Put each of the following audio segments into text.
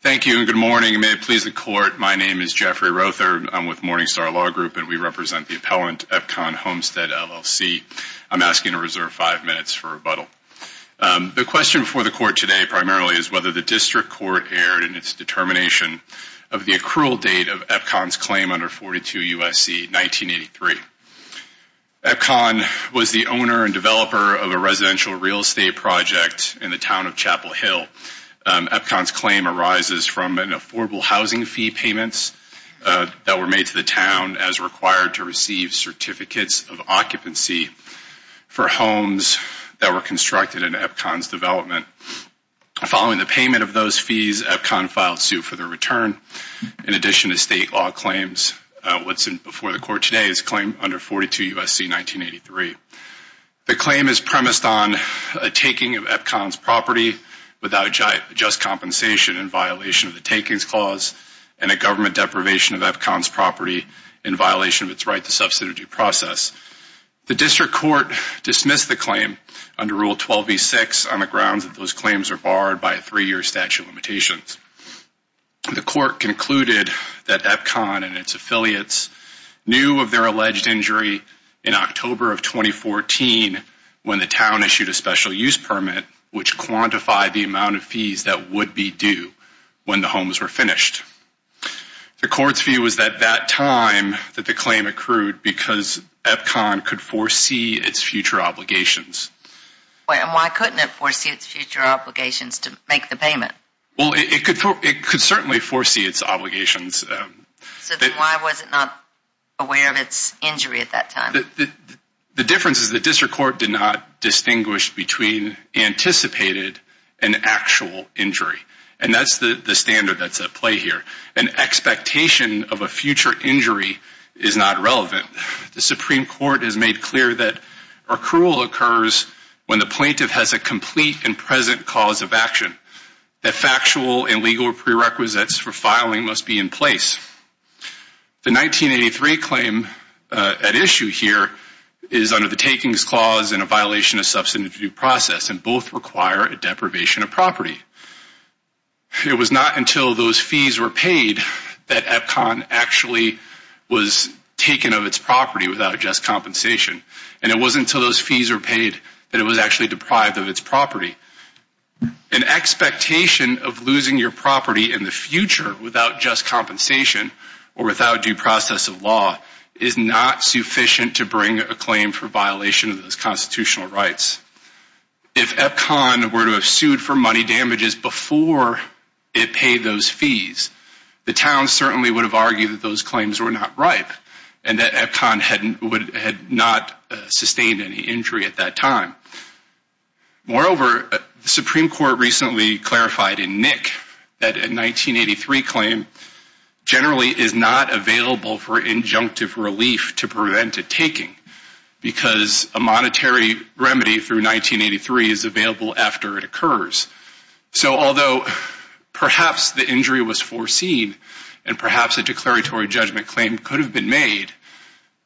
Thank you and good morning. May it please the court, my name is Jeffrey Rother. I'm with Morningstar Law Group and we represent the appellant Epcon Homestead, LLC. I'm asking to reserve five minutes for rebuttal. The question before the court today primarily is whether the district court erred in its determination of the accrual date of Epcon's claim under 42 U.S.C. 1983. Epcon was the owner and developer of a residential real estate project in the town of Chapel Hill. Epcon's claim arises from an affordable housing fee payments that were made to the town as required to receive certificates of occupancy for homes that were constructed in Epcon's development. Following the payment of those fees, Epcon filed suit for their return. In addition to state law claims, what's before the court today is claim under 42 U.S.C. 1983. The claim is premised on a taking of Epcon's property without just compensation in violation of the takings clause and a government deprivation of Epcon's property in violation of its right to subsidize due process. The district court dismissed the claim under Rule 12b-6 on the grounds that those claims are barred by a three-year statute of limitations. The court concluded that Epcon and its affiliates knew of their alleged injury in October of 2014 when the town issued a special use permit which quantified the amount of fees that would be due when the homes were finished. The court's view was that that time that the claim accrued because Epcon could foresee its future obligations. And why couldn't it foresee its future obligations to make the payment? Well, it could certainly foresee its obligations. So then why was it not aware of its injury at that time? The difference is the district court did not distinguish between anticipated and actual injury. And that's the standard that's at play here. An expectation of a future injury is not relevant. The Supreme Court has made clear that accrual occurs when the plaintiff has a complete and present cause of action. That factual and legal prerequisites for filing must be in place. The 1983 claim at issue here is under the Takings Clause and a violation of substantive due process and both require a deprivation of property. It was not until those fees were paid that Epcon actually was taken of its property without just compensation. And it wasn't until those fees were paid that it was actually deprived of its property. An expectation of losing your property in the future without just compensation or without due process of law is not sufficient to bring a claim for violation of those constitutional rights. If Epcon were to have sued for money damages before it paid those fees, the town certainly would have argued that those claims were not ripe and that Epcon had not sustained any injury at that time. Moreover, the Supreme Court recently clarified in Nick that a 1983 claim generally is not available for injunctive relief to prevent a taking because a monetary remedy through 1983 is available after it occurs. So although perhaps the injury was foreseen and perhaps a declaratory judgment claim could have been made,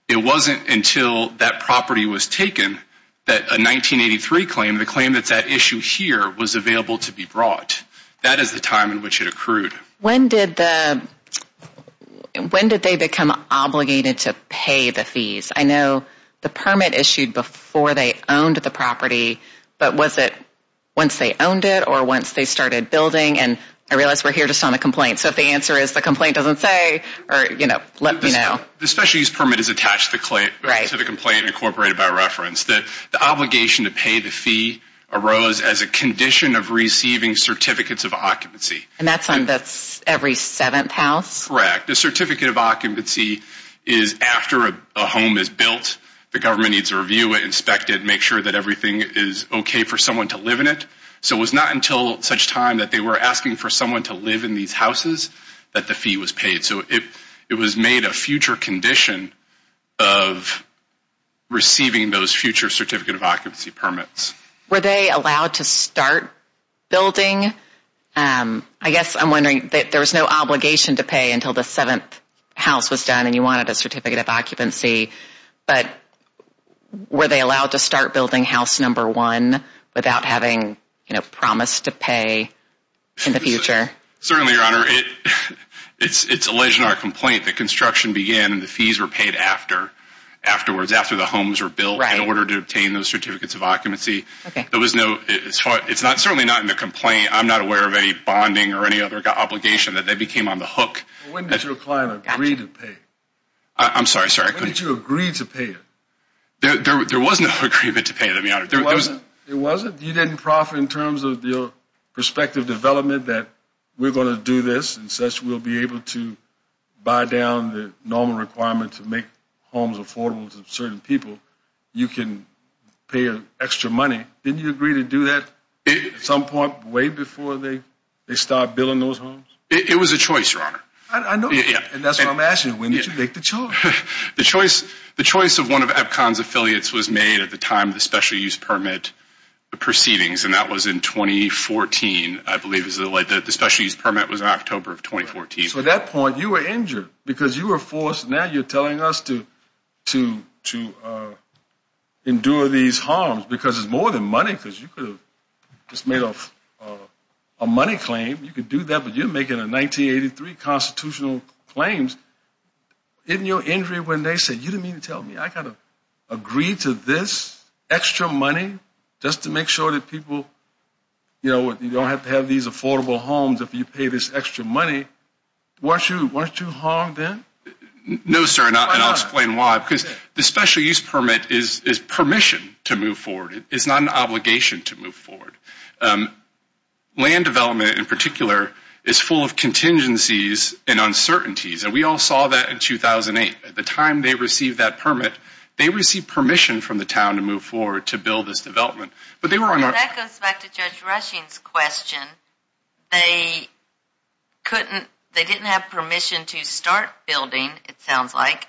it wasn't until that property was taken that a 1983 claim, the claim that's at issue here, was available to be brought. That is the time in which it accrued. When did they become obligated to pay the fees? I know the permit issued before they owned the property, but was it once they owned it or once they started building? And I realize we're here just on a complaint, so if the answer is the complaint doesn't say or, you know, let me know. The special use permit is attached to the complaint incorporated by reference. The obligation to pay the fee arose as a condition of receiving certificates of occupancy. And that's on every seventh house? Correct. The certificate of occupancy is after a home is built, the government needs to review it, inspect it, and make sure that everything is okay for someone to live in it. So it was not until such time that they were asking for someone to live in these houses that the fee was paid. So it was made a future condition of receiving those future certificate of occupancy permits. Were they allowed to start building? I guess I'm wondering, there was no obligation to pay until the seventh house was done and you wanted a certificate of occupancy, but were they allowed to start building house number one without having, you know, promised to pay in the future? Certainly, Your Honor, it's alleged in our complaint that construction began and the fees were paid afterwards, after the homes were built, in order to obtain those certificates of occupancy. It's certainly not in the complaint. I'm not aware of any bonding or any other obligation that they became on the hook. When did your client agree to pay? I'm sorry, sir. When did you agree to pay? There was no agreement to pay, Your Honor. There wasn't? There wasn't? You didn't proffer in terms of your perspective development that we're going to do this and such we'll be able to buy down the normal requirement to make homes affordable to certain people. You can pay extra money. Didn't you agree to do that at some point way before they started building those homes? It was a choice, Your Honor. I know. And that's what I'm asking. When did you make the choice? The choice of one of Epcon's affiliates was made at the time of the special use permit proceedings, and that was in 2014, I believe is the date. The special use permit was in October of 2014. So at that point you were injured because you were forced. Now you're telling us to endure these harms because it's more than money because you could have just made a money claim. You could do that, but you're making a 1983 constitutional claim. In your injury when they said, you didn't mean to tell me. I got to agree to this extra money just to make sure that people, you know, you don't have to have these affordable homes if you pay this extra money. Weren't you harmed then? No, sir, and I'll explain why. Why not? Because the special use permit is permission to move forward. It's not an obligation to move forward. Land development in particular is full of contingencies and uncertainties, and we all saw that in 2008. At the time they received that permit, they received permission from the town to move forward to build this development. That goes back to Judge Rushing's question. They didn't have permission to start building, it sounds like,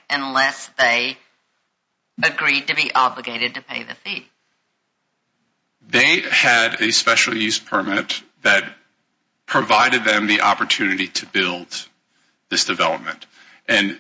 they had a special use permit that provided them the opportunity to build this development. And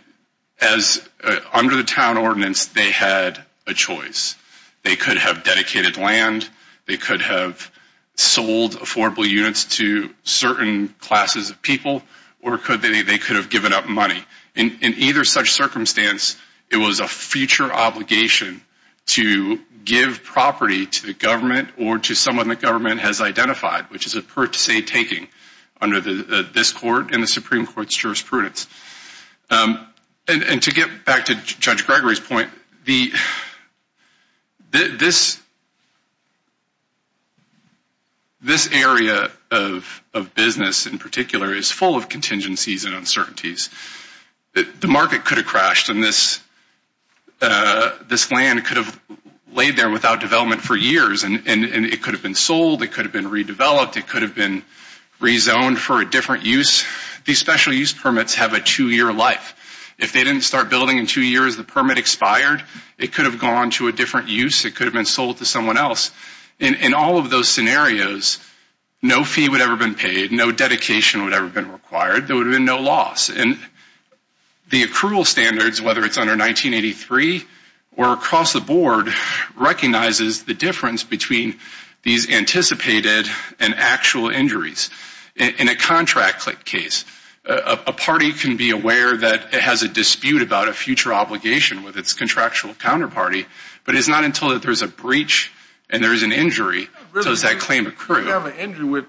under the town ordinance, they had a choice. They could have dedicated land, they could have sold affordable units to certain classes of people, or they could have given up money. In either such circumstance, it was a future obligation to give property to the government or to someone the government has identified, which is a per se taking under this court and the Supreme Court's jurisprudence. And to get back to Judge Gregory's point, this area of business in particular is full of contingencies and uncertainties. The market could have crashed, and this land could have laid there without development for years, and it could have been sold, it could have been redeveloped, it could have been rezoned for a different use. These special use permits have a two-year life. If they didn't start building in two years, the permit expired, it could have gone to a different use, it could have been sold to someone else. In all of those scenarios, no fee would ever have been paid, no dedication would ever have been required, there would have been no loss. And the accrual standards, whether it's under 1983 or across the board, recognizes the difference between these anticipated and actual injuries. In a contract case, a party can be aware that it has a dispute about a future obligation with its contractual counterparty, but it's not until there's a breach and there's an injury does that claim accrue. If you have an injury with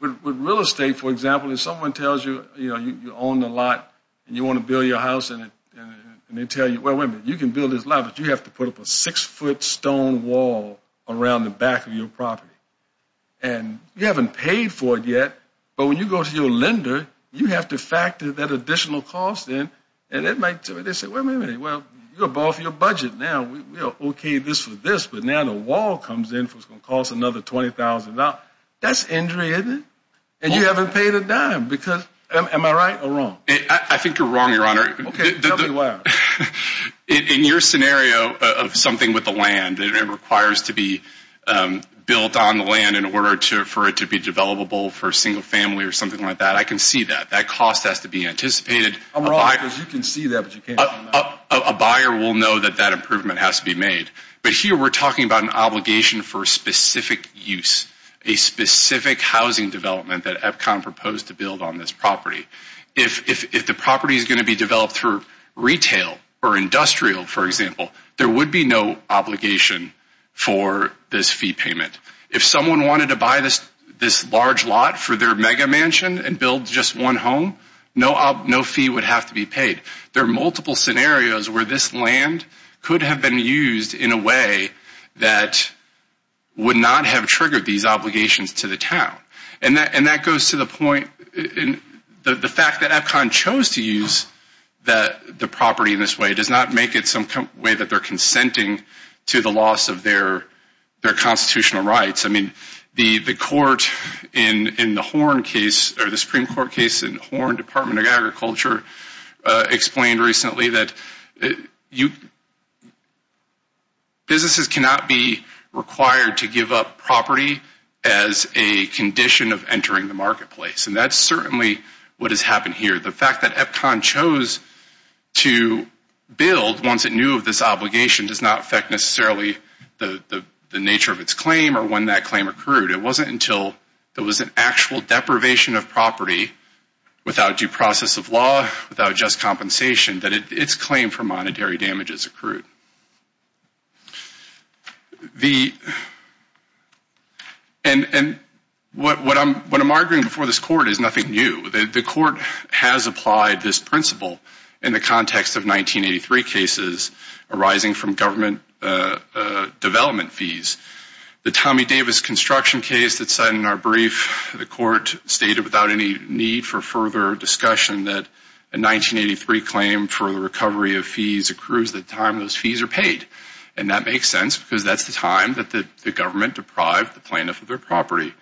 real estate, for example, and someone tells you, you know, you own the lot and you want to build your house, and they tell you, well, wait a minute, you can build this lot, but you have to put up a six-foot stone wall around the back of your property. And you haven't paid for it yet, but when you go to your lender, you have to factor that additional cost in, and they say, wait a minute, well, you're above your budget now. We are okay this with this, but now the wall comes in and it's going to cost another $20,000. That's injury, isn't it? And you haven't paid a dime, because am I right or wrong? I think you're wrong, Your Honor. Okay, tell me why. In your scenario of something with the land, and it requires to be built on the land in order for it to be developable for a single family or something like that, I can see that. That cost has to be anticipated. I'm wrong, because you can see that, but you can't say no. A buyer will know that that improvement has to be made. But here we're talking about an obligation for a specific use, a specific housing development that EPCON proposed to build on this property. If the property is going to be developed for retail or industrial, for example, there would be no obligation for this fee payment. If someone wanted to buy this large lot for their mega mansion there are multiple scenarios where this land could have been used in a way that would not have triggered these obligations to the town. And that goes to the point, the fact that EPCON chose to use the property in this way does not make it some way that they're consenting to the loss of their constitutional rights. I mean, the Supreme Court case in Horn Department of Agriculture explained recently that businesses cannot be required to give up property as a condition of entering the marketplace. And that's certainly what has happened here. The fact that EPCON chose to build once it knew of this obligation does not affect necessarily the nature of its claim or when that claim occurred. It wasn't until there was an actual deprivation of property without due process of law, without just compensation, that its claim for monetary damages accrued. And what I'm arguing before this Court is nothing new. The Court has applied this principle in the context of 1983 cases arising from government development fees. The Tommy Davis construction case that's in our brief, the Court stated without any need for further discussion that a 1983 claim for the recovery of fees accrues the time those fees are paid. And that makes sense because that's the time that the government deprived the plaintiff of their property.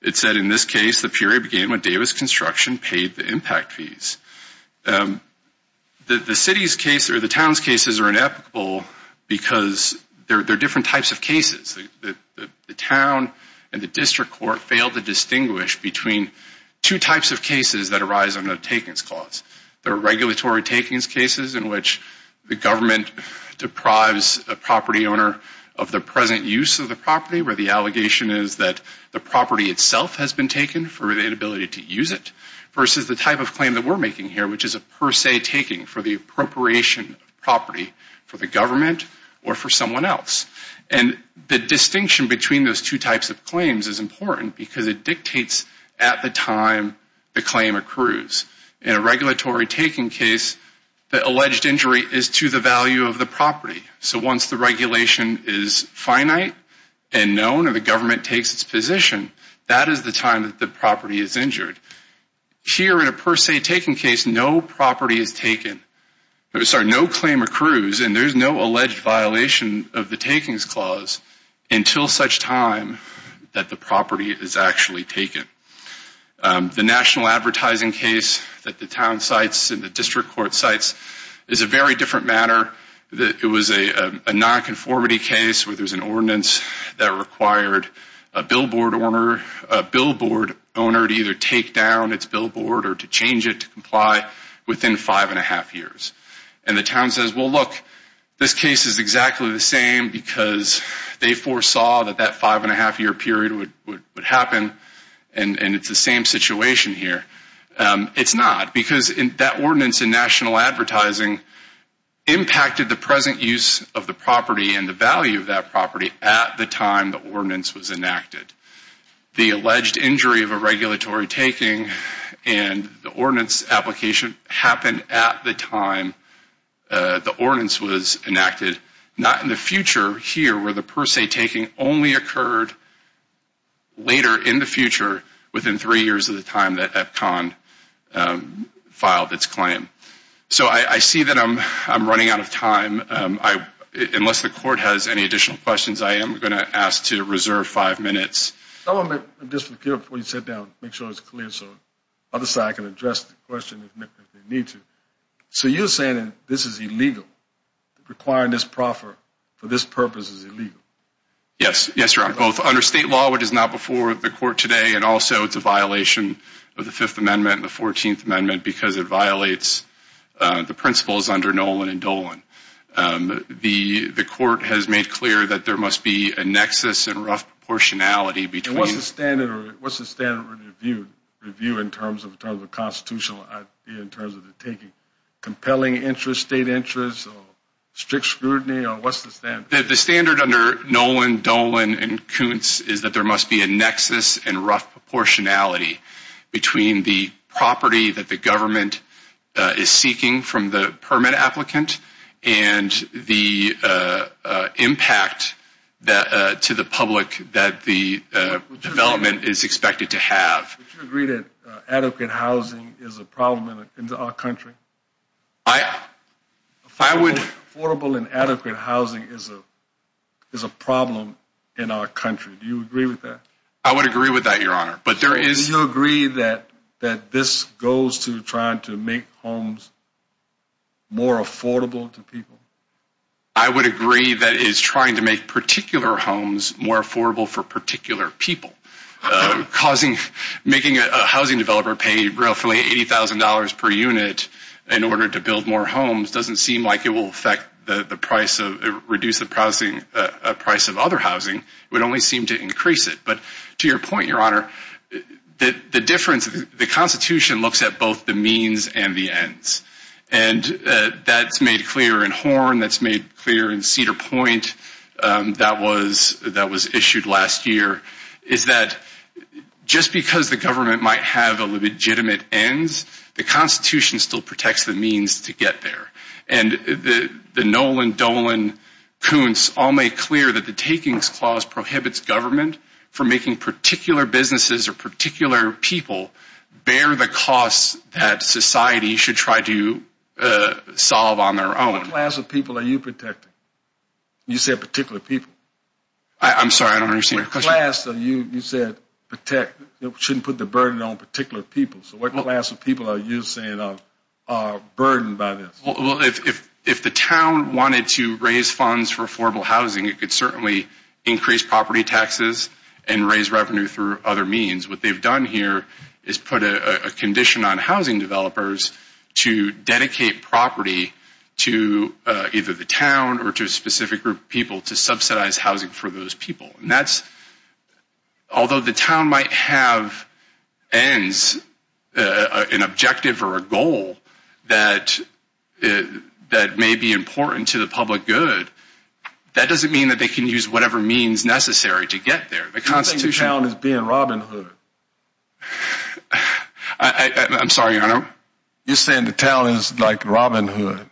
It said in this case, the period began when Davis Construction paid the impact fees. The city's case or the town's cases are inequitable because they're different types of cases. The town and the district court failed to distinguish between two types of cases that arise on a takings clause. There are regulatory takings cases in which the government deprives a property owner of the present use of the property where the allegation is that the property itself has been taken for inability to use it versus the type of claim that we're making here, which is a per se taking for the appropriation of property for the government or for someone else. And the distinction between those two types of claims is important because it dictates at the time the claim accrues. In a regulatory taking case, the alleged injury is to the value of the property. So once the regulation is finite and known and the government takes its position, that is the time that the property is injured. Here in a per se taking case, no claim accrues and there's no alleged violation of the takings clause until such time that the property is actually taken. The national advertising case that the town cites and the district court cites is a very different matter. It was a nonconformity case where there's an ordinance that required a billboard owner to either take down its billboard or to change it to comply within five and a half years. And the town says, well, look, this case is exactly the same because they foresaw that that five and a half year period would happen and it's the same situation here. It's not because that ordinance in national advertising impacted the present use of the property and the value of that property at the time the ordinance was enacted. The alleged injury of a regulatory taking and the ordinance application happened at the time the ordinance was enacted, not in the future here where the per se taking only occurred later in the future within three years of the time that Epcon filed its claim. So I see that I'm running out of time. Unless the court has any additional questions, I am going to ask to reserve five minutes. Just before you sit down, make sure it's clear so the other side can address the question if they need to. So you're saying that this is illegal, requiring this proffer for this purpose is illegal? Yes. Yes, Your Honor. Both under state law, which is not before the court today, and also it's a violation of the Fifth Amendment and the Fourteenth Amendment because it violates the principles under Nolan and Dolan. The court has made clear that there must be a nexus and rough proportionality between the two. And what's the standard review in terms of the constitutional idea, in terms of the taking? Compelling interest, state interest, or strict scrutiny, or what's the standard? The standard under Nolan, Dolan, and Kuntz is that there must be a nexus and rough proportionality between the property that the government is seeking from the permit applicant and the impact to the public that the development is expected to have. Would you agree that adequate housing is a problem in our country? I would. Affordable and adequate housing is a problem in our country. Do you agree with that? I would agree with that, Your Honor. Do you agree that this goes to trying to make homes more affordable to people? I would agree that it is trying to make particular homes more affordable for particular people. Making a housing developer pay roughly $80,000 per unit in order to build more homes doesn't seem like it will reduce the price of other housing. It would only seem to increase it. But to your point, Your Honor, the difference, the Constitution looks at both the means and the ends. And that's made clear in Horn. That's made clear in Cedar Point. That was issued last year. It's that just because the government might have a legitimate end, the Constitution still protects the means to get there. And the Nolan, Dolan, Koontz all make clear that the Takings Clause prohibits government from making particular businesses or particular people bear the costs that society should try to solve on their own. What class of people are you protecting? You said particular people. I'm sorry. I don't understand your question. What class are you, you said, protect, shouldn't put the burden on particular people. So what class of people are you saying are burdened by this? Well, if the town wanted to raise funds for affordable housing, it could certainly increase property taxes and raise revenue through other means. What they've done here is put a condition on housing developers to dedicate property to either the town or to a specific group of people to subsidize housing for those people. Although the town might have ends, an objective or a goal that may be important to the public good, that doesn't mean that they can use whatever means necessary to get there. The town is being Robin Hood. I'm sorry, Your Honor. You're saying the town is like Robin Hood.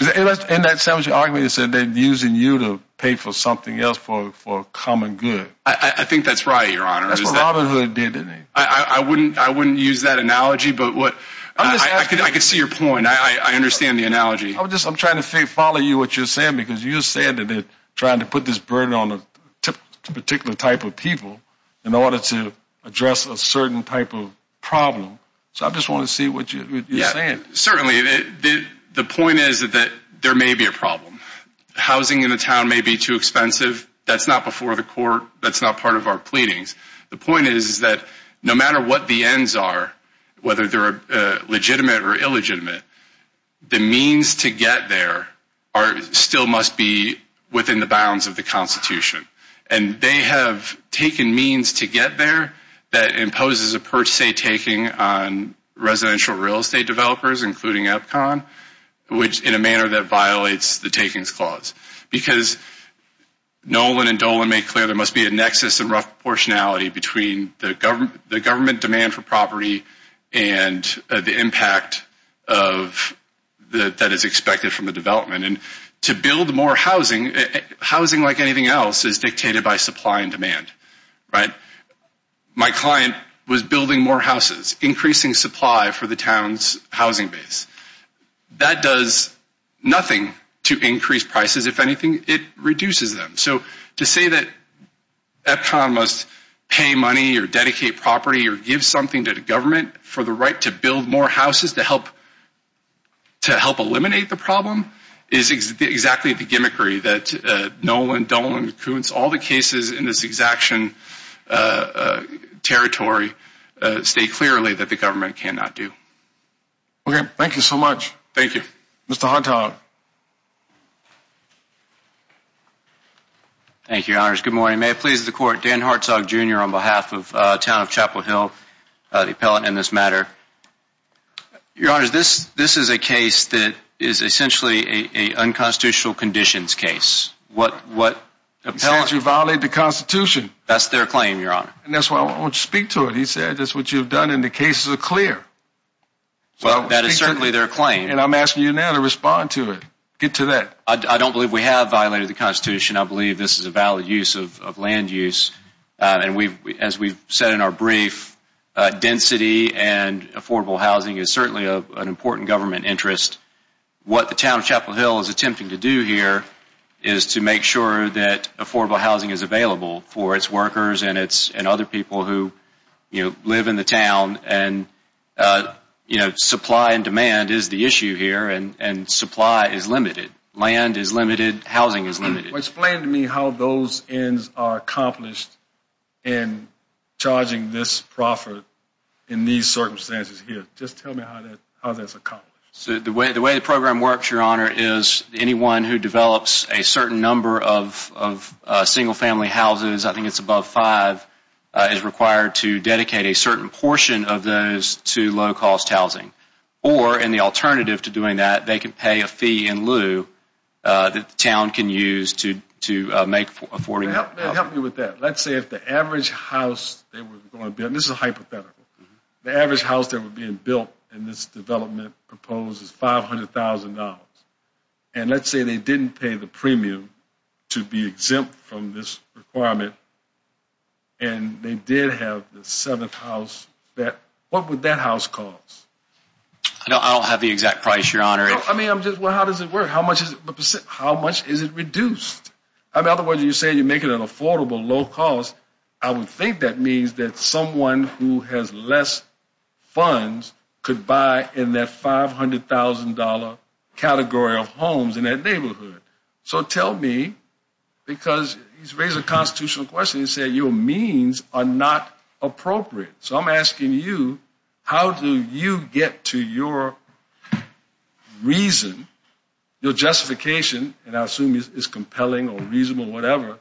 And that sounds like you're arguing that they're using you to pay for something else for a common good. I think that's right, Your Honor. That's what Robin Hood did to me. I wouldn't use that analogy, but I can see your point. I understand the analogy. I'm trying to follow you, what you're saying, because you're saying that they're trying to put this burden on a particular type of people So I just want to see what you're saying. Certainly. The point is that there may be a problem. Housing in the town may be too expensive. That's not before the court. That's not part of our pleadings. The point is that no matter what the ends are, whether they're legitimate or illegitimate, the means to get there still must be within the bounds of the Constitution. And they have taken means to get there that imposes a per se taking on residential real estate developers, including EPCON, in a manner that violates the takings clause. Because Nolan and Dolan made clear there must be a nexus and rough proportionality between the government demand for property and the impact that is expected from the development. And to build more housing, housing like anything else, is dictated by supply and demand. My client was building more houses, increasing supply for the town's housing base. That does nothing to increase prices. If anything, it reduces them. So to say that EPCON must pay money or dedicate property or give something to the government for the right to build more houses to help eliminate the problem is exactly the gimmickry that Nolan, Dolan, Koontz, all the cases in this exaction territory state clearly that the government cannot do. Okay. Thank you so much. Thank you. Mr. Hartog. Thank you, Your Honors. Good morning. May it please the Court, Dan Hartog, Jr., on behalf of the town of Chapel Hill, the appellant in this matter. Your Honors, this is a case that is essentially an unconstitutional conditions case. He says you violated the Constitution. That's their claim, Your Honor. And that's why I want you to speak to it. He said that's what you've done and the cases are clear. Well, that is certainly their claim. And I'm asking you now to respond to it. Get to that. I don't believe we have violated the Constitution. I believe this is a valid use of land use. And as we've said in our brief, density and affordable housing is certainly an important government interest. What the town of Chapel Hill is attempting to do here is to make sure that affordable housing is available for its workers and other people who live in the town. And supply and demand is the issue here, and supply is limited. Land is limited. Housing is limited. Explain to me how those ends are accomplished in charging this profit in these circumstances here. Just tell me how that's accomplished. The way the program works, Your Honor, is anyone who develops a certain number of single-family houses, I think it's above five, is required to dedicate a certain portion of those to low-cost housing. Or, and the alternative to doing that, they can pay a fee in lieu that the town can use to make affording housing. Help me with that. Let's say if the average house they were going to build, and this is a hypothetical, the average house they were being built in this development proposed is $500,000. And let's say they didn't pay the premium to be exempt from this requirement and they did have the seventh house. I don't have the exact price, Your Honor. I mean, I'm just, well, how does it work? How much is it reduced? In other words, you say you're making it affordable, low-cost. I would think that means that someone who has less funds could buy in that $500,000 category of homes in that neighborhood. So tell me, because he's raised a constitutional question. He said your means are not appropriate. So I'm asking you, how do you get to your reason, your justification, and I assume it's compelling or reasonable or whatever,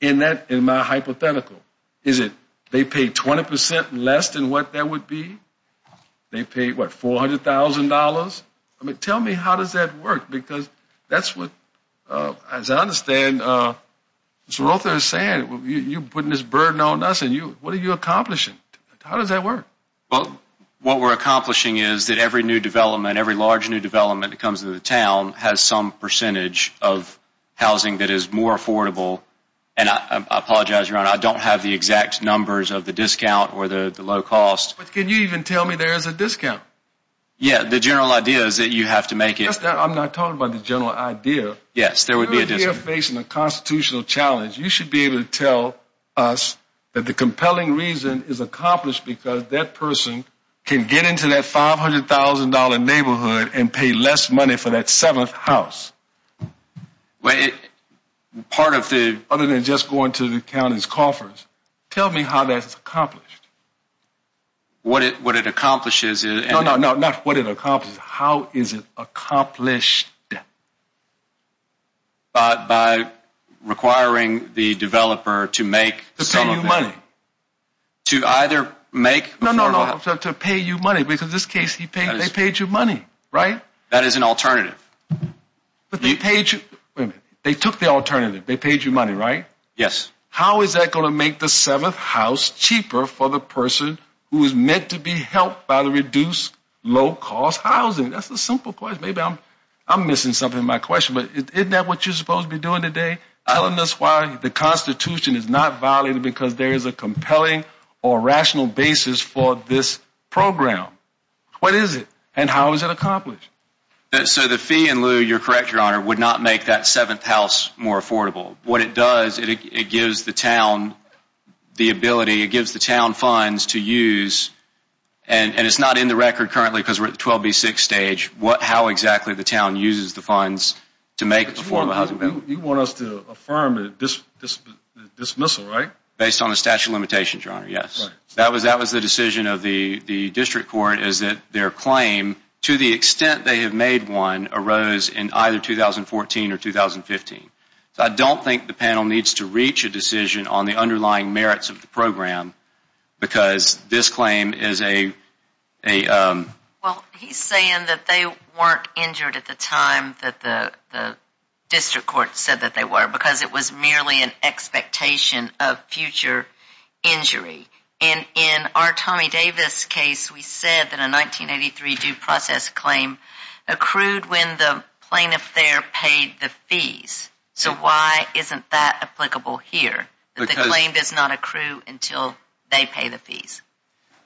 in my hypothetical? Is it they pay 20% less than what that would be? They pay, what, $400,000? I mean, tell me, how does that work? Because that's what, as I understand, Mr. Rother is saying, you're putting this burden on us and what are you accomplishing? How does that work? Well, what we're accomplishing is that every new development, every large new development that comes to the town has some percentage of housing that is more affordable. And I apologize, Your Honor, I don't have the exact numbers of the discount or the low cost. But can you even tell me there is a discount? Yeah, the general idea is that you have to make it. I'm not talking about the general idea. Yes, there would be a discount. If you're facing a constitutional challenge, you should be able to tell us that the compelling reason is accomplished because that person can get into that $500,000 neighborhood and pay less money for that seventh house. Other than just going to the county's coffers, tell me how that's accomplished. What it accomplishes is... No, no, no, not what it accomplishes. How is it accomplished? By requiring the developer to make... To pay you money. To either make... No, no, no, to pay you money because in this case they paid you money, right? That is an alternative. But they paid you... Wait a minute. They took the alternative. They paid you money, right? Yes. How is that going to make the seventh house cheaper for the person who is meant to be helped by the reduced low-cost housing? That's a simple question. Maybe I'm missing something in my question, but isn't that what you're supposed to be doing today? Telling us why the Constitution is not valid because there is a compelling or rational basis for this program. What is it? And how is it accomplished? So the fee in lieu, you're correct, Your Honor, would not make that seventh house more affordable. What it does, it gives the town the ability, it gives the town funds to use, and it's not in the record currently because we're at the 12B6 stage, how exactly the town uses the funds to make affordable housing. You want us to affirm a dismissal, right? Based on the statute of limitations, Your Honor, yes. That was the decision of the district court is that their claim, to the extent they have made one, arose in either 2014 or 2015. So I don't think the panel needs to reach a decision on the underlying merits of the program because this claim is a... Well, he's saying that they weren't injured at the time that the district court said that they were because it was merely an expectation of future injury. And in our Tommy Davis case, we said that a 1983 due process claim accrued when the plaintiff there paid the fees. So why isn't that applicable here, that the claim does not accrue until they pay the fees?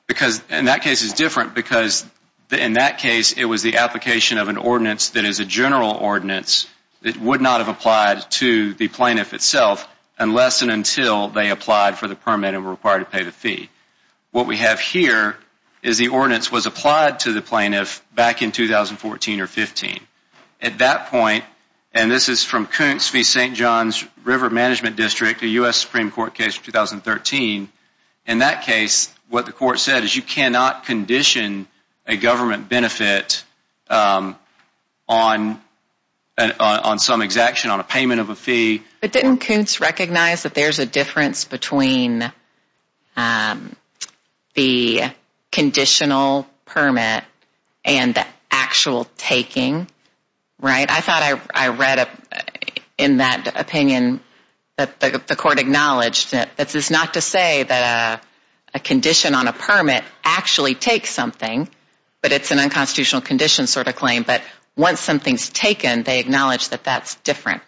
Because in that case it's different because in that case it was the application of an ordinance that is a general ordinance that would not have applied to the plaintiff itself unless and until they applied for the permit and were required to pay the fee. What we have here is the ordinance was applied to the plaintiff back in 2014 or 15. At that point, and this is from Kuntz v. St. John's River Management District, a U.S. Supreme Court case from 2013, in that case what the court said is you cannot condition a government benefit But didn't Kuntz recognize that there's a difference between the conditional permit and the actual taking, right? I thought I read in that opinion that the court acknowledged that this is not to say that a condition on a permit actually takes something, but it's an unconstitutional condition sort of claim, but once something's taken they acknowledge that that's different.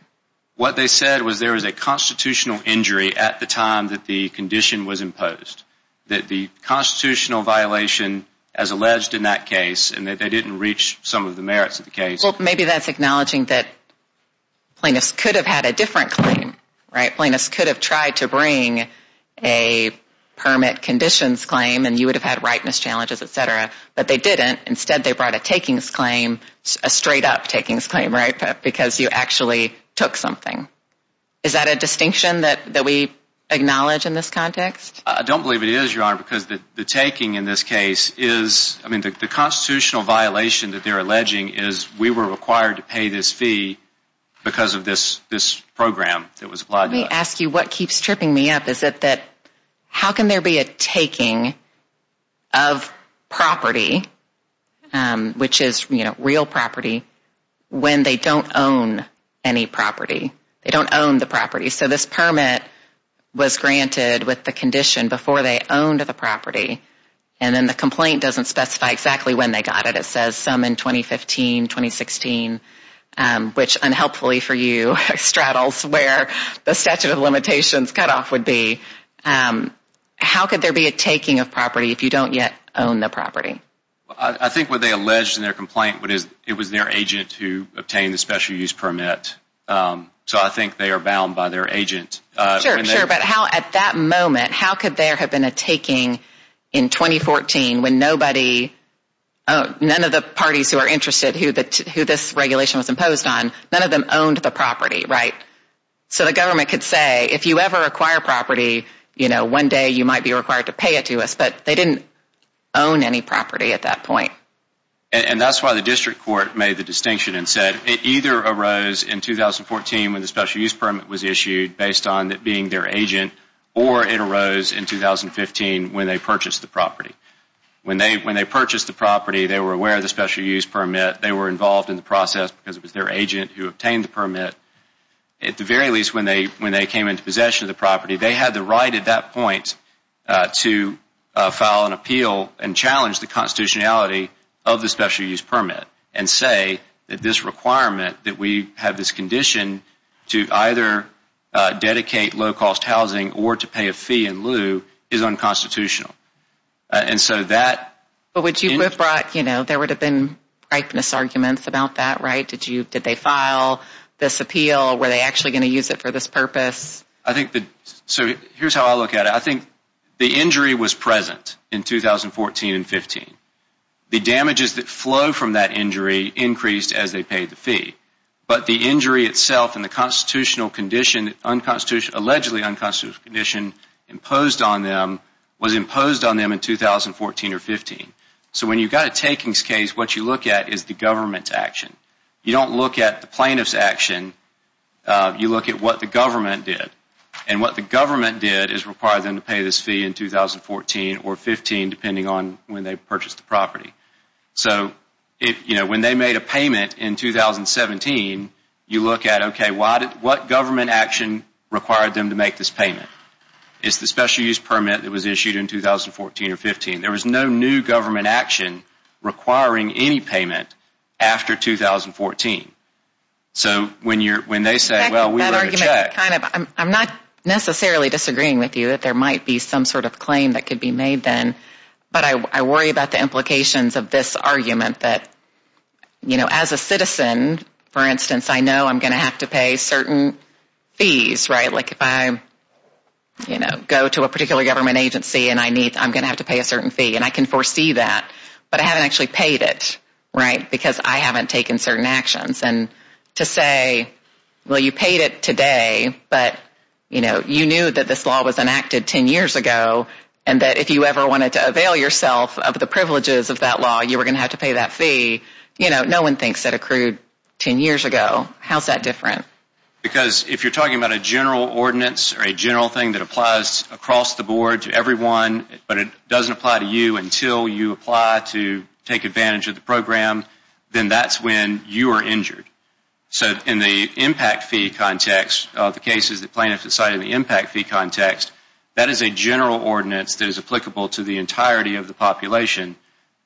What they said was there was a constitutional injury at the time that the condition was imposed, that the constitutional violation as alleged in that case and that they didn't reach some of the merits of the case. Well, maybe that's acknowledging that plaintiffs could have had a different claim, right? Plaintiffs could have tried to bring a permit conditions claim and you would have had rightness challenges, et cetera. But they didn't. Instead they brought a takings claim, a straight-up takings claim, right? Because you actually took something. Is that a distinction that we acknowledge in this context? I don't believe it is, Your Honor, because the taking in this case is, I mean the constitutional violation that they're alleging is we were required to pay this fee because of this program that was applied to us. Let me ask you what keeps tripping me up. Is it that how can there be a taking of property, which is real property, when they don't own any property? They don't own the property. So this permit was granted with the condition before they owned the property and then the complaint doesn't specify exactly when they got it. It says some in 2015, 2016, which unhelpfully for you straddles where the statute of limitations cutoff would be. How could there be a taking of property if you don't yet own the property? I think what they allege in their complaint, it was their agent who obtained the special use permit. So I think they are bound by their agent. Sure, sure. But how at that moment, how could there have been a taking in 2014 when nobody, none of the parties who are interested, who this regulation was imposed on, none of them owned the property, right? So the government could say, if you ever acquire property, one day you might be required to pay it to us. But they didn't own any property at that point. And that's why the district court made the distinction and said it either arose in 2014 when the special use permit was issued based on it being their agent, or it arose in 2015 when they purchased the property. When they purchased the property, they were aware of the special use permit. They were involved in the process because it was their agent who obtained the permit. At the very least, when they came into possession of the property, they had the right at that point to file an appeal and challenge the constitutionality of the special use permit and say that this requirement that we have this condition to either dedicate low-cost housing or to pay a fee in lieu is unconstitutional. And so that... But would you have brought, you know, there would have been ripeness arguments about that, right? Did they file this appeal? Were they actually going to use it for this purpose? I think the... So here's how I look at it. I think the injury was present in 2014 and 15. The damages that flow from that injury increased as they paid the fee. But the injury itself and the constitutional condition, allegedly unconstitutional condition imposed on them was imposed on them in 2014 or 15. So when you've got a takings case, what you look at is the government's action. You don't look at the plaintiff's action. You look at what the government did. And what the government did is require them to pay this fee in 2014 or 15 depending on when they purchased the property. So, you know, when they made a payment in 2017, you look at, okay, what government action required them to make this payment? It's the special use permit that was issued in 2014 or 15. There was no new government action requiring any payment after 2014. So when they say, well, we wrote a check... I'm not necessarily disagreeing with you that there might be some sort of claim that could be made then, but I worry about the implications of this argument that, you know, as a citizen, for instance, I know I'm going to have to pay certain fees, right? Like if I, you know, go to a particular government agency and I'm going to have to pay a certain fee. And I can foresee that, but I haven't actually paid it, right? Because I haven't taken certain actions. And to say, well, you paid it today, but, you know, you knew that this law was enacted 10 years ago and that if you ever wanted to avail yourself of the privileges of that law, you were going to have to pay that fee. You know, no one thinks that accrued 10 years ago. How's that different? Because if you're talking about a general ordinance or a general thing that applies across the board to everyone, but it doesn't apply to you until you apply to take advantage of the program, then that's when you are injured. So in the impact fee context, the cases that plaintiffs decide in the impact fee context, that is a general ordinance that is applicable to the entirety of the population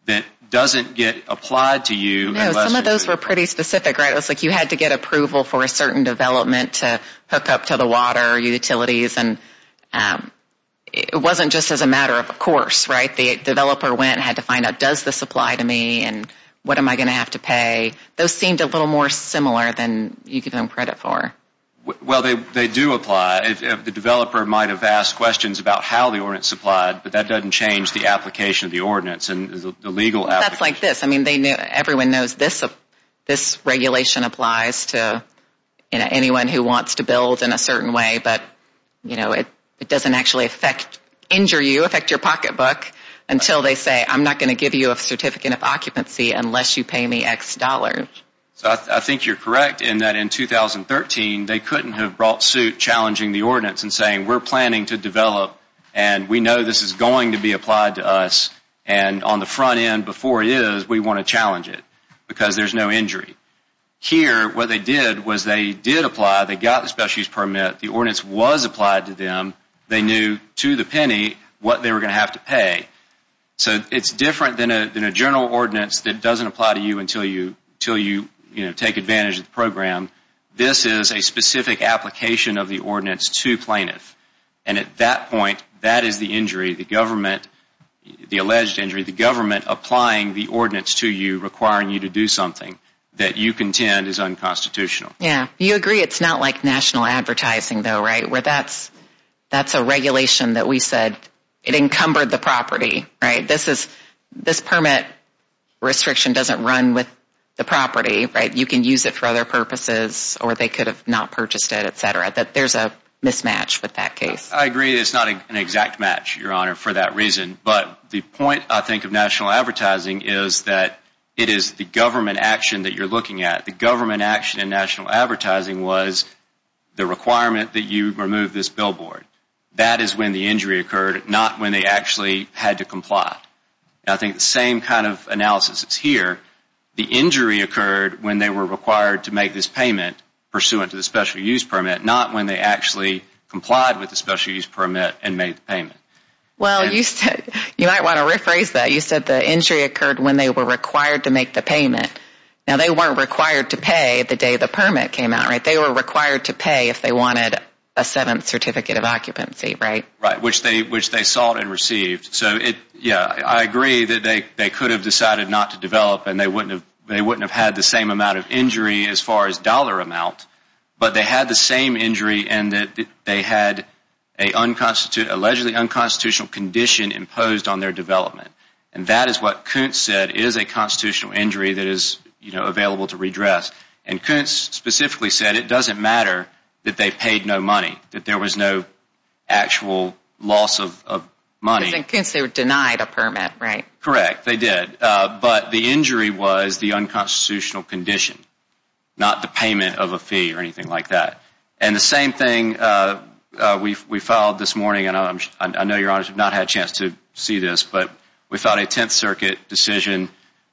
that doesn't get applied to you unless you're injured. No, some of those were pretty specific, right? It was like you had to get approval for a certain development to hook up to the water utilities. It wasn't just as a matter of course, right? The developer went and had to find out, does this apply to me and what am I going to have to pay? Those seemed a little more similar than you give them credit for. Well, they do apply. The developer might have asked questions about how the ordinance applied, but that doesn't change the application of the ordinance. That's like this. I mean, everyone knows this regulation applies to, you know, anyone who wants to build in a certain way, but, you know, it doesn't actually affect, injure you, affect your pocketbook until they say I'm not going to give you a certificate of occupancy unless you pay me X dollars. So I think you're correct in that in 2013, they couldn't have brought suit challenging the ordinance and saying we're planning to develop and we know this is going to be applied to us and on the front end before it is, we want to challenge it because there's no injury. Here, what they did was they did apply. They got the specialist permit. The ordinance was applied to them. They knew to the penny what they were going to have to pay. So it's different than a general ordinance that doesn't apply to you until you, you know, take advantage of the program. This is a specific application of the ordinance to plaintiffs, and at that point, that is the injury, the government, the alleged injury, the government applying the ordinance to you, requiring you to do something that you contend is unconstitutional. Yeah. You agree it's not like national advertising, though, right, where that's a regulation that we said it encumbered the property, right? This permit restriction doesn't run with the property, right? You can use it for other purposes or they could have not purchased it, et cetera, that there's a mismatch with that case. I agree it's not an exact match, Your Honor, for that reason, but the point, I think, of national advertising is that it is the government action that you're looking at, the government action in national advertising was the requirement that you remove this billboard. That is when the injury occurred, not when they actually had to comply. I think the same kind of analysis is here. The injury occurred when they were required to make this payment pursuant to the special use permit, not when they actually complied with the special use permit and made the payment. Well, you might want to rephrase that. You said the injury occurred when they were required to make the payment. Now, they weren't required to pay the day the permit came out, right? They were required to pay if they wanted a seventh certificate of occupancy, right? Right, which they sought and received. So, yeah, I agree that they could have decided not to develop and they wouldn't have had the same amount of injury as far as dollar amount, but they had the same injury and that they had an allegedly unconstitutional condition imposed on their development. And that is what Kuntz said is a constitutional injury that is available to redress. And Kuntz specifically said it doesn't matter that they paid no money, that there was no actual loss of money. Because in Kuntz they were denied a permit, right? Correct, they did. But the injury was the unconstitutional condition, not the payment of a fee or anything like that. And the same thing we filed this morning, and I know Your Honors have not had a chance to see this, but we filed a Tenth Circuit decision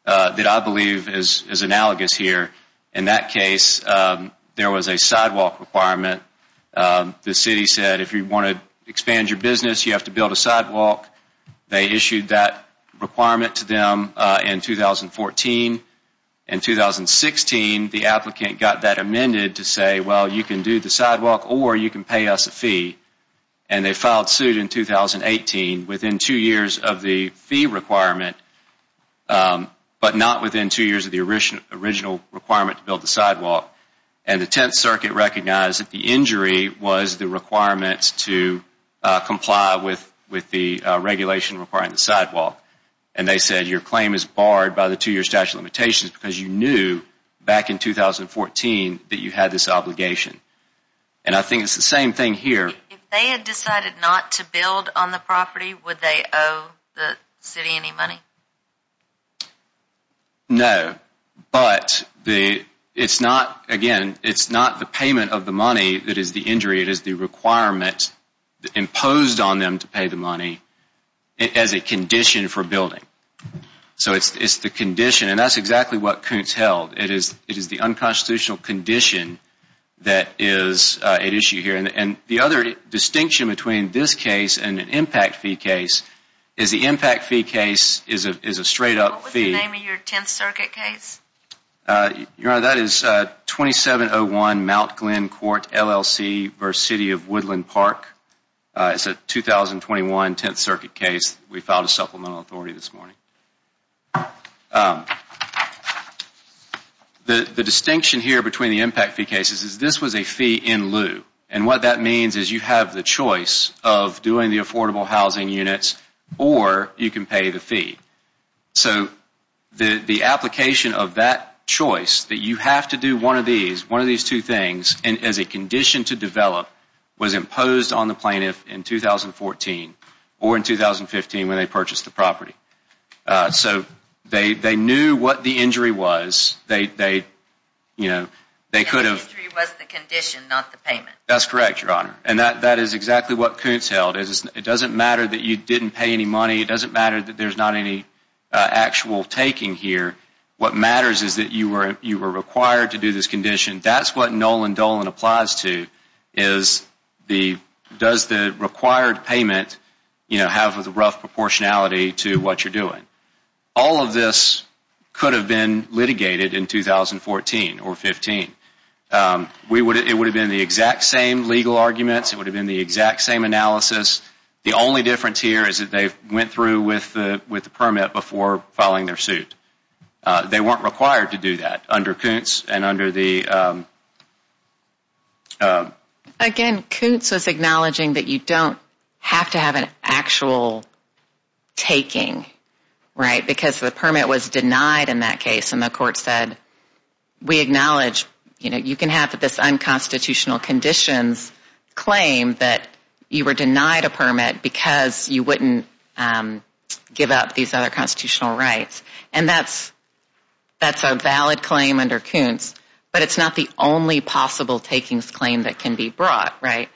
that I believe is analogous here. In that case, there was a sidewalk requirement. The city said if you want to expand your business, you have to build a sidewalk. They issued that requirement to them in 2014. In 2016, the applicant got that amended to say, well, you can do the sidewalk or you can pay us a fee. And they filed suit in 2018. Within two years of the fee requirement, but not within two years of the original requirement to build the sidewalk. And the Tenth Circuit recognized that the injury was the requirement to comply with the regulation requiring the sidewalk. And they said your claim is barred by the two-year statute of limitations because you knew back in 2014 that you had this obligation. And I think it's the same thing here. If they had decided not to build on the property, would they owe the city any money? No. But it's not, again, it's not the payment of the money that is the injury. It is the requirement imposed on them to pay the money as a condition for building. So it's the condition, and that's exactly what Kuntz held. It is the unconstitutional condition that is at issue here. And the other distinction between this case and an impact fee case is the impact fee case is a straight-up fee. What was the name of your Tenth Circuit case? Your Honor, that is 2701 Mount Glen Court, LLC versus City of Woodland Park. It's a 2021 Tenth Circuit case. We filed a supplemental authority this morning. The distinction here between the impact fee cases is this was a fee in lieu. And what that means is you have the choice of doing the affordable housing units or you can pay the fee. So the application of that choice, that you have to do one of these, one of these two things, as a condition to develop, was imposed on the plaintiff in 2014 or in 2015 when they purchased the property. So they knew what the injury was. And the injury was the condition, not the payment. That's correct, Your Honor. And that is exactly what Kuntz held. It doesn't matter that you didn't pay any money. It doesn't matter that there's not any actual taking here. What matters is that you were required to do this condition. That's what Nolan Dolan applies to is does the required payment have a rough proportionality to what you're doing. All of this could have been litigated in 2014 or 15. It would have been the exact same legal arguments. It would have been the exact same analysis. The only difference here is that they went through with the permit before filing their suit. They weren't required to do that under Kuntz and under the... Again, Kuntz was acknowledging that you don't have to have an actual taking, right, because the permit was denied in that case, and the court said, we acknowledge you can have this unconstitutional conditions claim that you were denied a permit because you wouldn't give up these other constitutional rights. And that's a valid claim under Kuntz, but it's not the only possible takings claim that can be brought, right?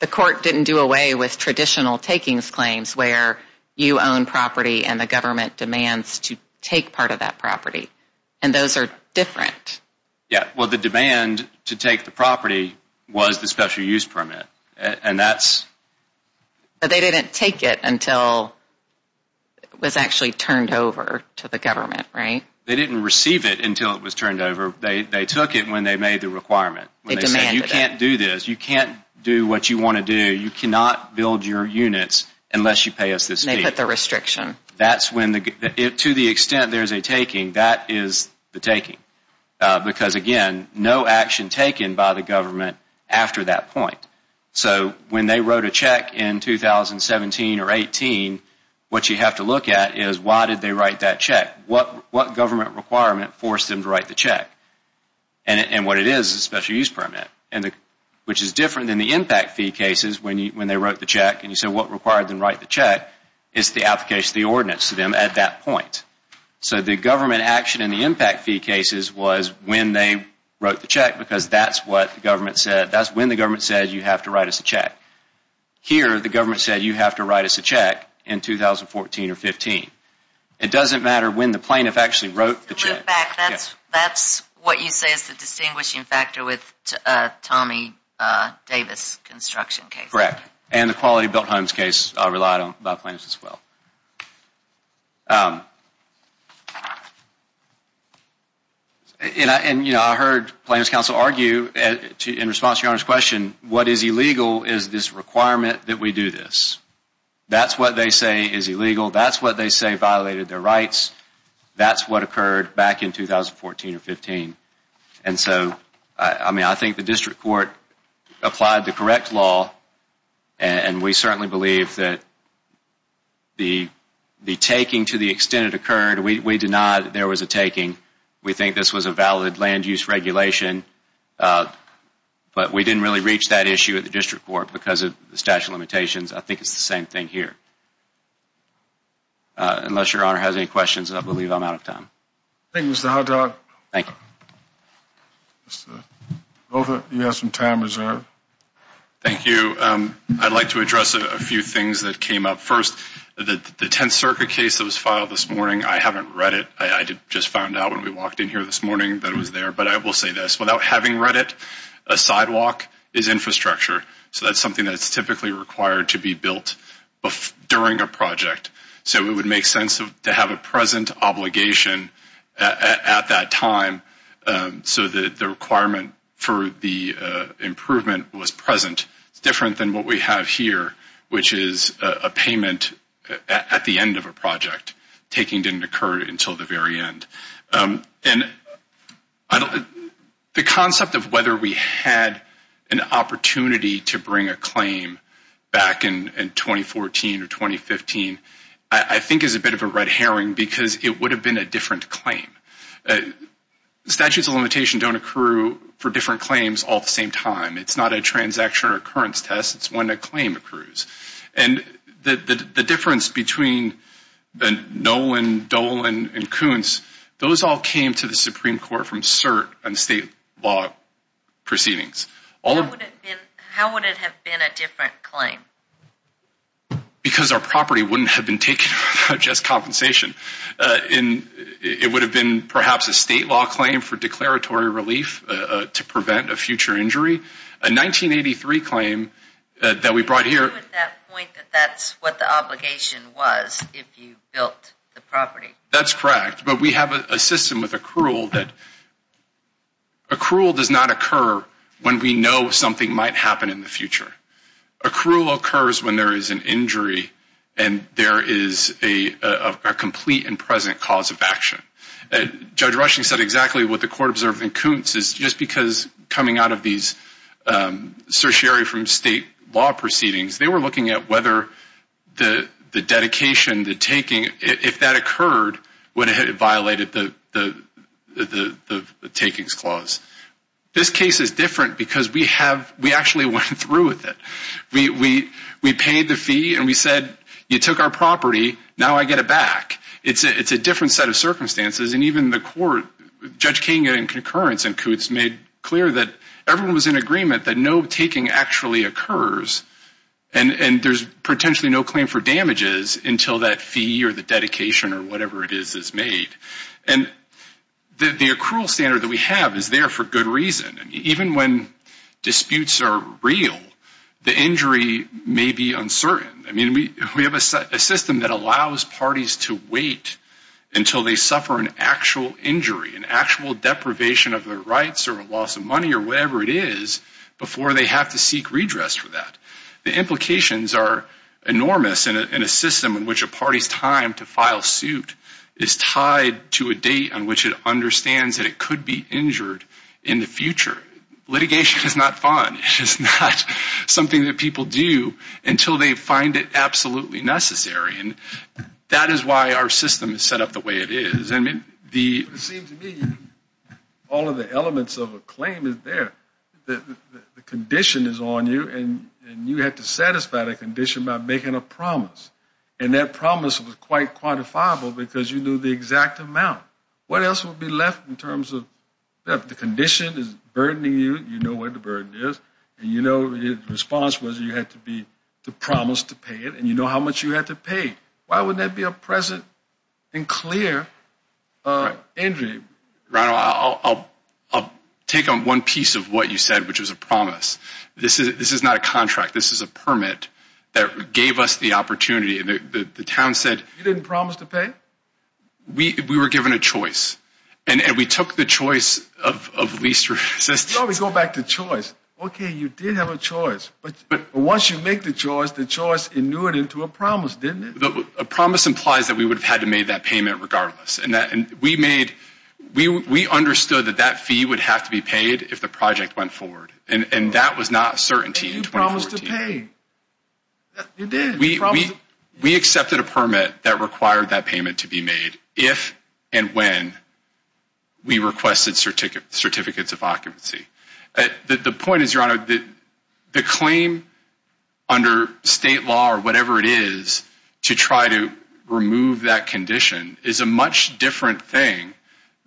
The court didn't do away with traditional takings claims where you own property and the government demands to take part of that property, and those are different. Yeah, well, the demand to take the property was the special use permit, and that's... But they didn't take it until it was actually turned over to the government, right? They didn't receive it until it was turned over. They took it when they made the requirement. They demanded it. When they said, you can't do this. You can't do what you want to do. You cannot build your units unless you pay us this fee. And they put the restriction. That's when, to the extent there's a taking, that is the taking, because, again, no action taken by the government after that point. So when they wrote a check in 2017 or 18, what you have to look at is why did they write that check? What government requirement forced them to write the check? And what it is is a special use permit, which is different than the impact fee cases when they wrote the check. And you say, what required them to write the check? It's the application of the ordinance to them at that point. So the government action in the impact fee cases was when they wrote the check because that's what the government said. That's when the government said, you have to write us a check. Here, the government said, you have to write us a check in 2014 or 15. It doesn't matter when the plaintiff actually wrote the check. In fact, that's what you say is the distinguishing factor with Tommy Davis' construction case. Correct. And the Quality Built Homes case relied on by plaintiffs as well. And, you know, I heard plaintiffs' counsel argue, in response to your Honor's question, what is illegal is this requirement that we do this. That's what they say is illegal. That's what they say violated their rights. That's what occurred back in 2014 or 15. And so, I mean, I think the district court applied the correct law, and we certainly believe that the taking to the extent it occurred, we deny that there was a taking. We think this was a valid land use regulation. But we didn't really reach that issue at the district court because of the statute of limitations. I think it's the same thing here. Unless your Honor has any questions, I believe I'm out of time. Thank you, Mr. Hotdog. Thank you. Mr. Grover, you have some time reserved. Thank you. I'd like to address a few things that came up. First, the 10th Circuit case that was filed this morning, I haven't read it. I just found out when we walked in here this morning that it was there. But I will say this. Without having read it, a sidewalk is infrastructure. So that's something that's typically required to be built during a project. So it would make sense to have a present obligation at that time so that the requirement for the improvement was present. It's different than what we have here, which is a payment at the end of a project. Taking didn't occur until the very end. And the concept of whether we had an opportunity to bring a claim back in 2014 or 2015, I think is a bit of a red herring because it would have been a different claim. Statutes of limitation don't occur for different claims all at the same time. It's not a transaction or occurrence test. It's when a claim occurs. And the difference between Nolan, Dolan, and Koontz, those all came to the Supreme Court from cert and state law proceedings. How would it have been a different claim? Because our property wouldn't have been taken without just compensation. It would have been perhaps a state law claim for declaratory relief to prevent a future injury. A 1983 claim that we brought here. You knew at that point that that's what the obligation was if you built the property. That's correct. But we have a system with accrual that accrual does not occur when we know something might happen in the future. Accrual occurs when there is an injury and there is a complete and present cause of action. Judge Rushing said exactly what the court observed in Koontz, just because coming out of these certiorari from state law proceedings, they were looking at whether the dedication, the taking, if that occurred, would it have violated the takings clause. This case is different because we actually went through with it. We paid the fee and we said, you took our property, now I get it back. It's a different set of circumstances. And even the court, Judge King in concurrence in Koontz, made clear that everyone was in agreement that no taking actually occurs and there's potentially no claim for damages until that fee or the dedication or whatever it is is made. And the accrual standard that we have is there for good reason. Even when disputes are real, the injury may be uncertain. We have a system that allows parties to wait until they suffer an actual injury, an actual deprivation of their rights or a loss of money or whatever it is, before they have to seek redress for that. The implications are enormous in a system in which a party's time to file suit is tied to a date on which it understands that it could be injured in the future. Litigation is not fun. It's not something that people do until they find it absolutely necessary. That is why our system is set up the way it is. It seems to me all of the elements of a claim is there. The condition is on you and you have to satisfy the condition by making a promise. And that promise was quite quantifiable because you knew the exact amount. What else would be left in terms of the condition is burdening you, you know what the burden is, and you know the response was you had to promise to pay it, and you know how much you had to pay. Why wouldn't that be a present and clear injury? Ronald, I'll take on one piece of what you said, which was a promise. This is not a contract. This is a permit that gave us the opportunity. You didn't promise to pay? We were given a choice, and we took the choice of least resistance. You always go back to choice. Okay, you did have a choice. But once you make the choice, the choice inuited into a promise, didn't it? A promise implies that we would have had to make that payment regardless. We understood that that fee would have to be paid if the project went forward, and that was not a certainty in 2014. But you promised to pay. You did. We accepted a permit that required that payment to be made if and when we requested certificates of occupancy. The point is, Your Honor, the claim under state law or whatever it is to try to remove that condition is a much different thing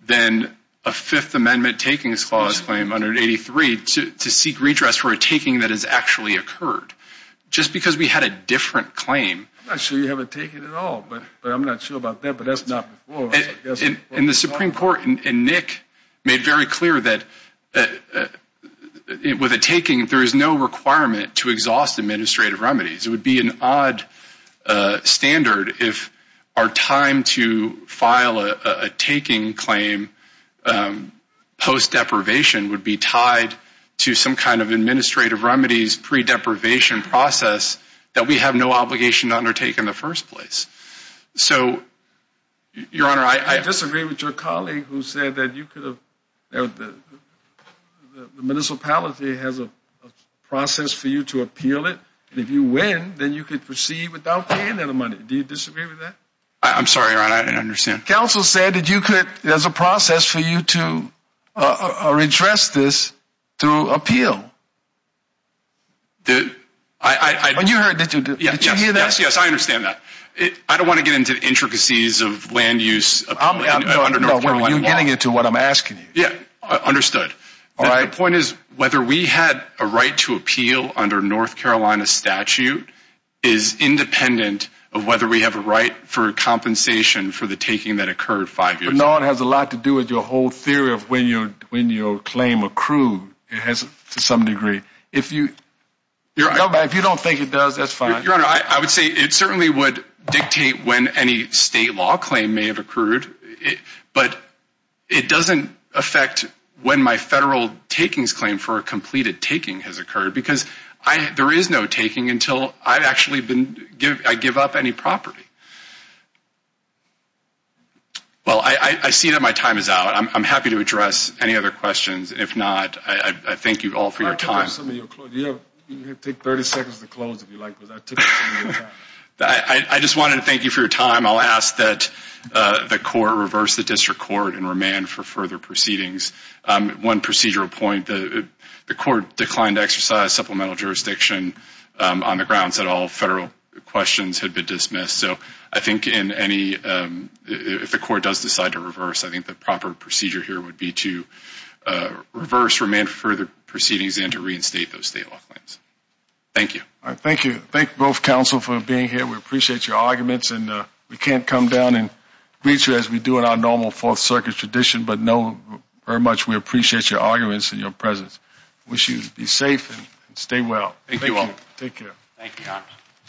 than a Fifth Amendment takings clause claim under 83 to seek redress for a taking that has actually occurred. Just because we had a different claim. I'm not sure you have a taking at all, but I'm not sure about that. But that's not before us. And the Supreme Court and Nick made very clear that with a taking, there is no requirement to exhaust administrative remedies. It would be an odd standard if our time to file a taking claim post-deprivation would be tied to some kind of administrative remedies pre-deprivation process that we have no obligation to undertake in the first place. So, Your Honor, I... I disagree with your colleague who said that the municipality has a process for you to appeal it, and if you win, then you can proceed without paying any money. Do you disagree with that? I'm sorry, Your Honor, I don't understand. Counsel said that you could, there's a process for you to redress this through appeal. I... You heard, did you hear that? Yes, I understand that. I don't want to get into intricacies of land use under North Carolina law. You're getting into what I'm asking you. Yeah, understood. The point is whether we had a right to appeal under North Carolina statute is independent of whether we have a right for compensation for the taking that occurred five years ago. No, it has a lot to do with your whole theory of when your claim accrued. It has to some degree. If you don't think it does, that's fine. Your Honor, I would say it certainly would dictate when any state law claim may have accrued, but it doesn't affect when my federal takings claim for a completed taking has occurred because there is no taking until I've actually been, I give up any property. Well, I see that my time is out. I'm happy to address any other questions. If not, I thank you all for your time. You can take 30 seconds to close if you like. I just wanted to thank you for your time. I'll ask that the court reverse the district court and remand for further proceedings. One procedural point, the court declined to exercise supplemental jurisdiction on the grounds that all federal questions had been dismissed. So I think if the court does decide to reverse, I think the proper procedure here would be to reverse remand for the proceedings and to reinstate those state law claims. Thank you. Thank you. Thank you both, counsel, for being here. We appreciate your arguments. And we can't come down and greet you as we do in our normal Fourth Circuit tradition, but know very much we appreciate your arguments and your presence. Wish you be safe and stay well. Thank you all. Take care. Thank you, Your Honor.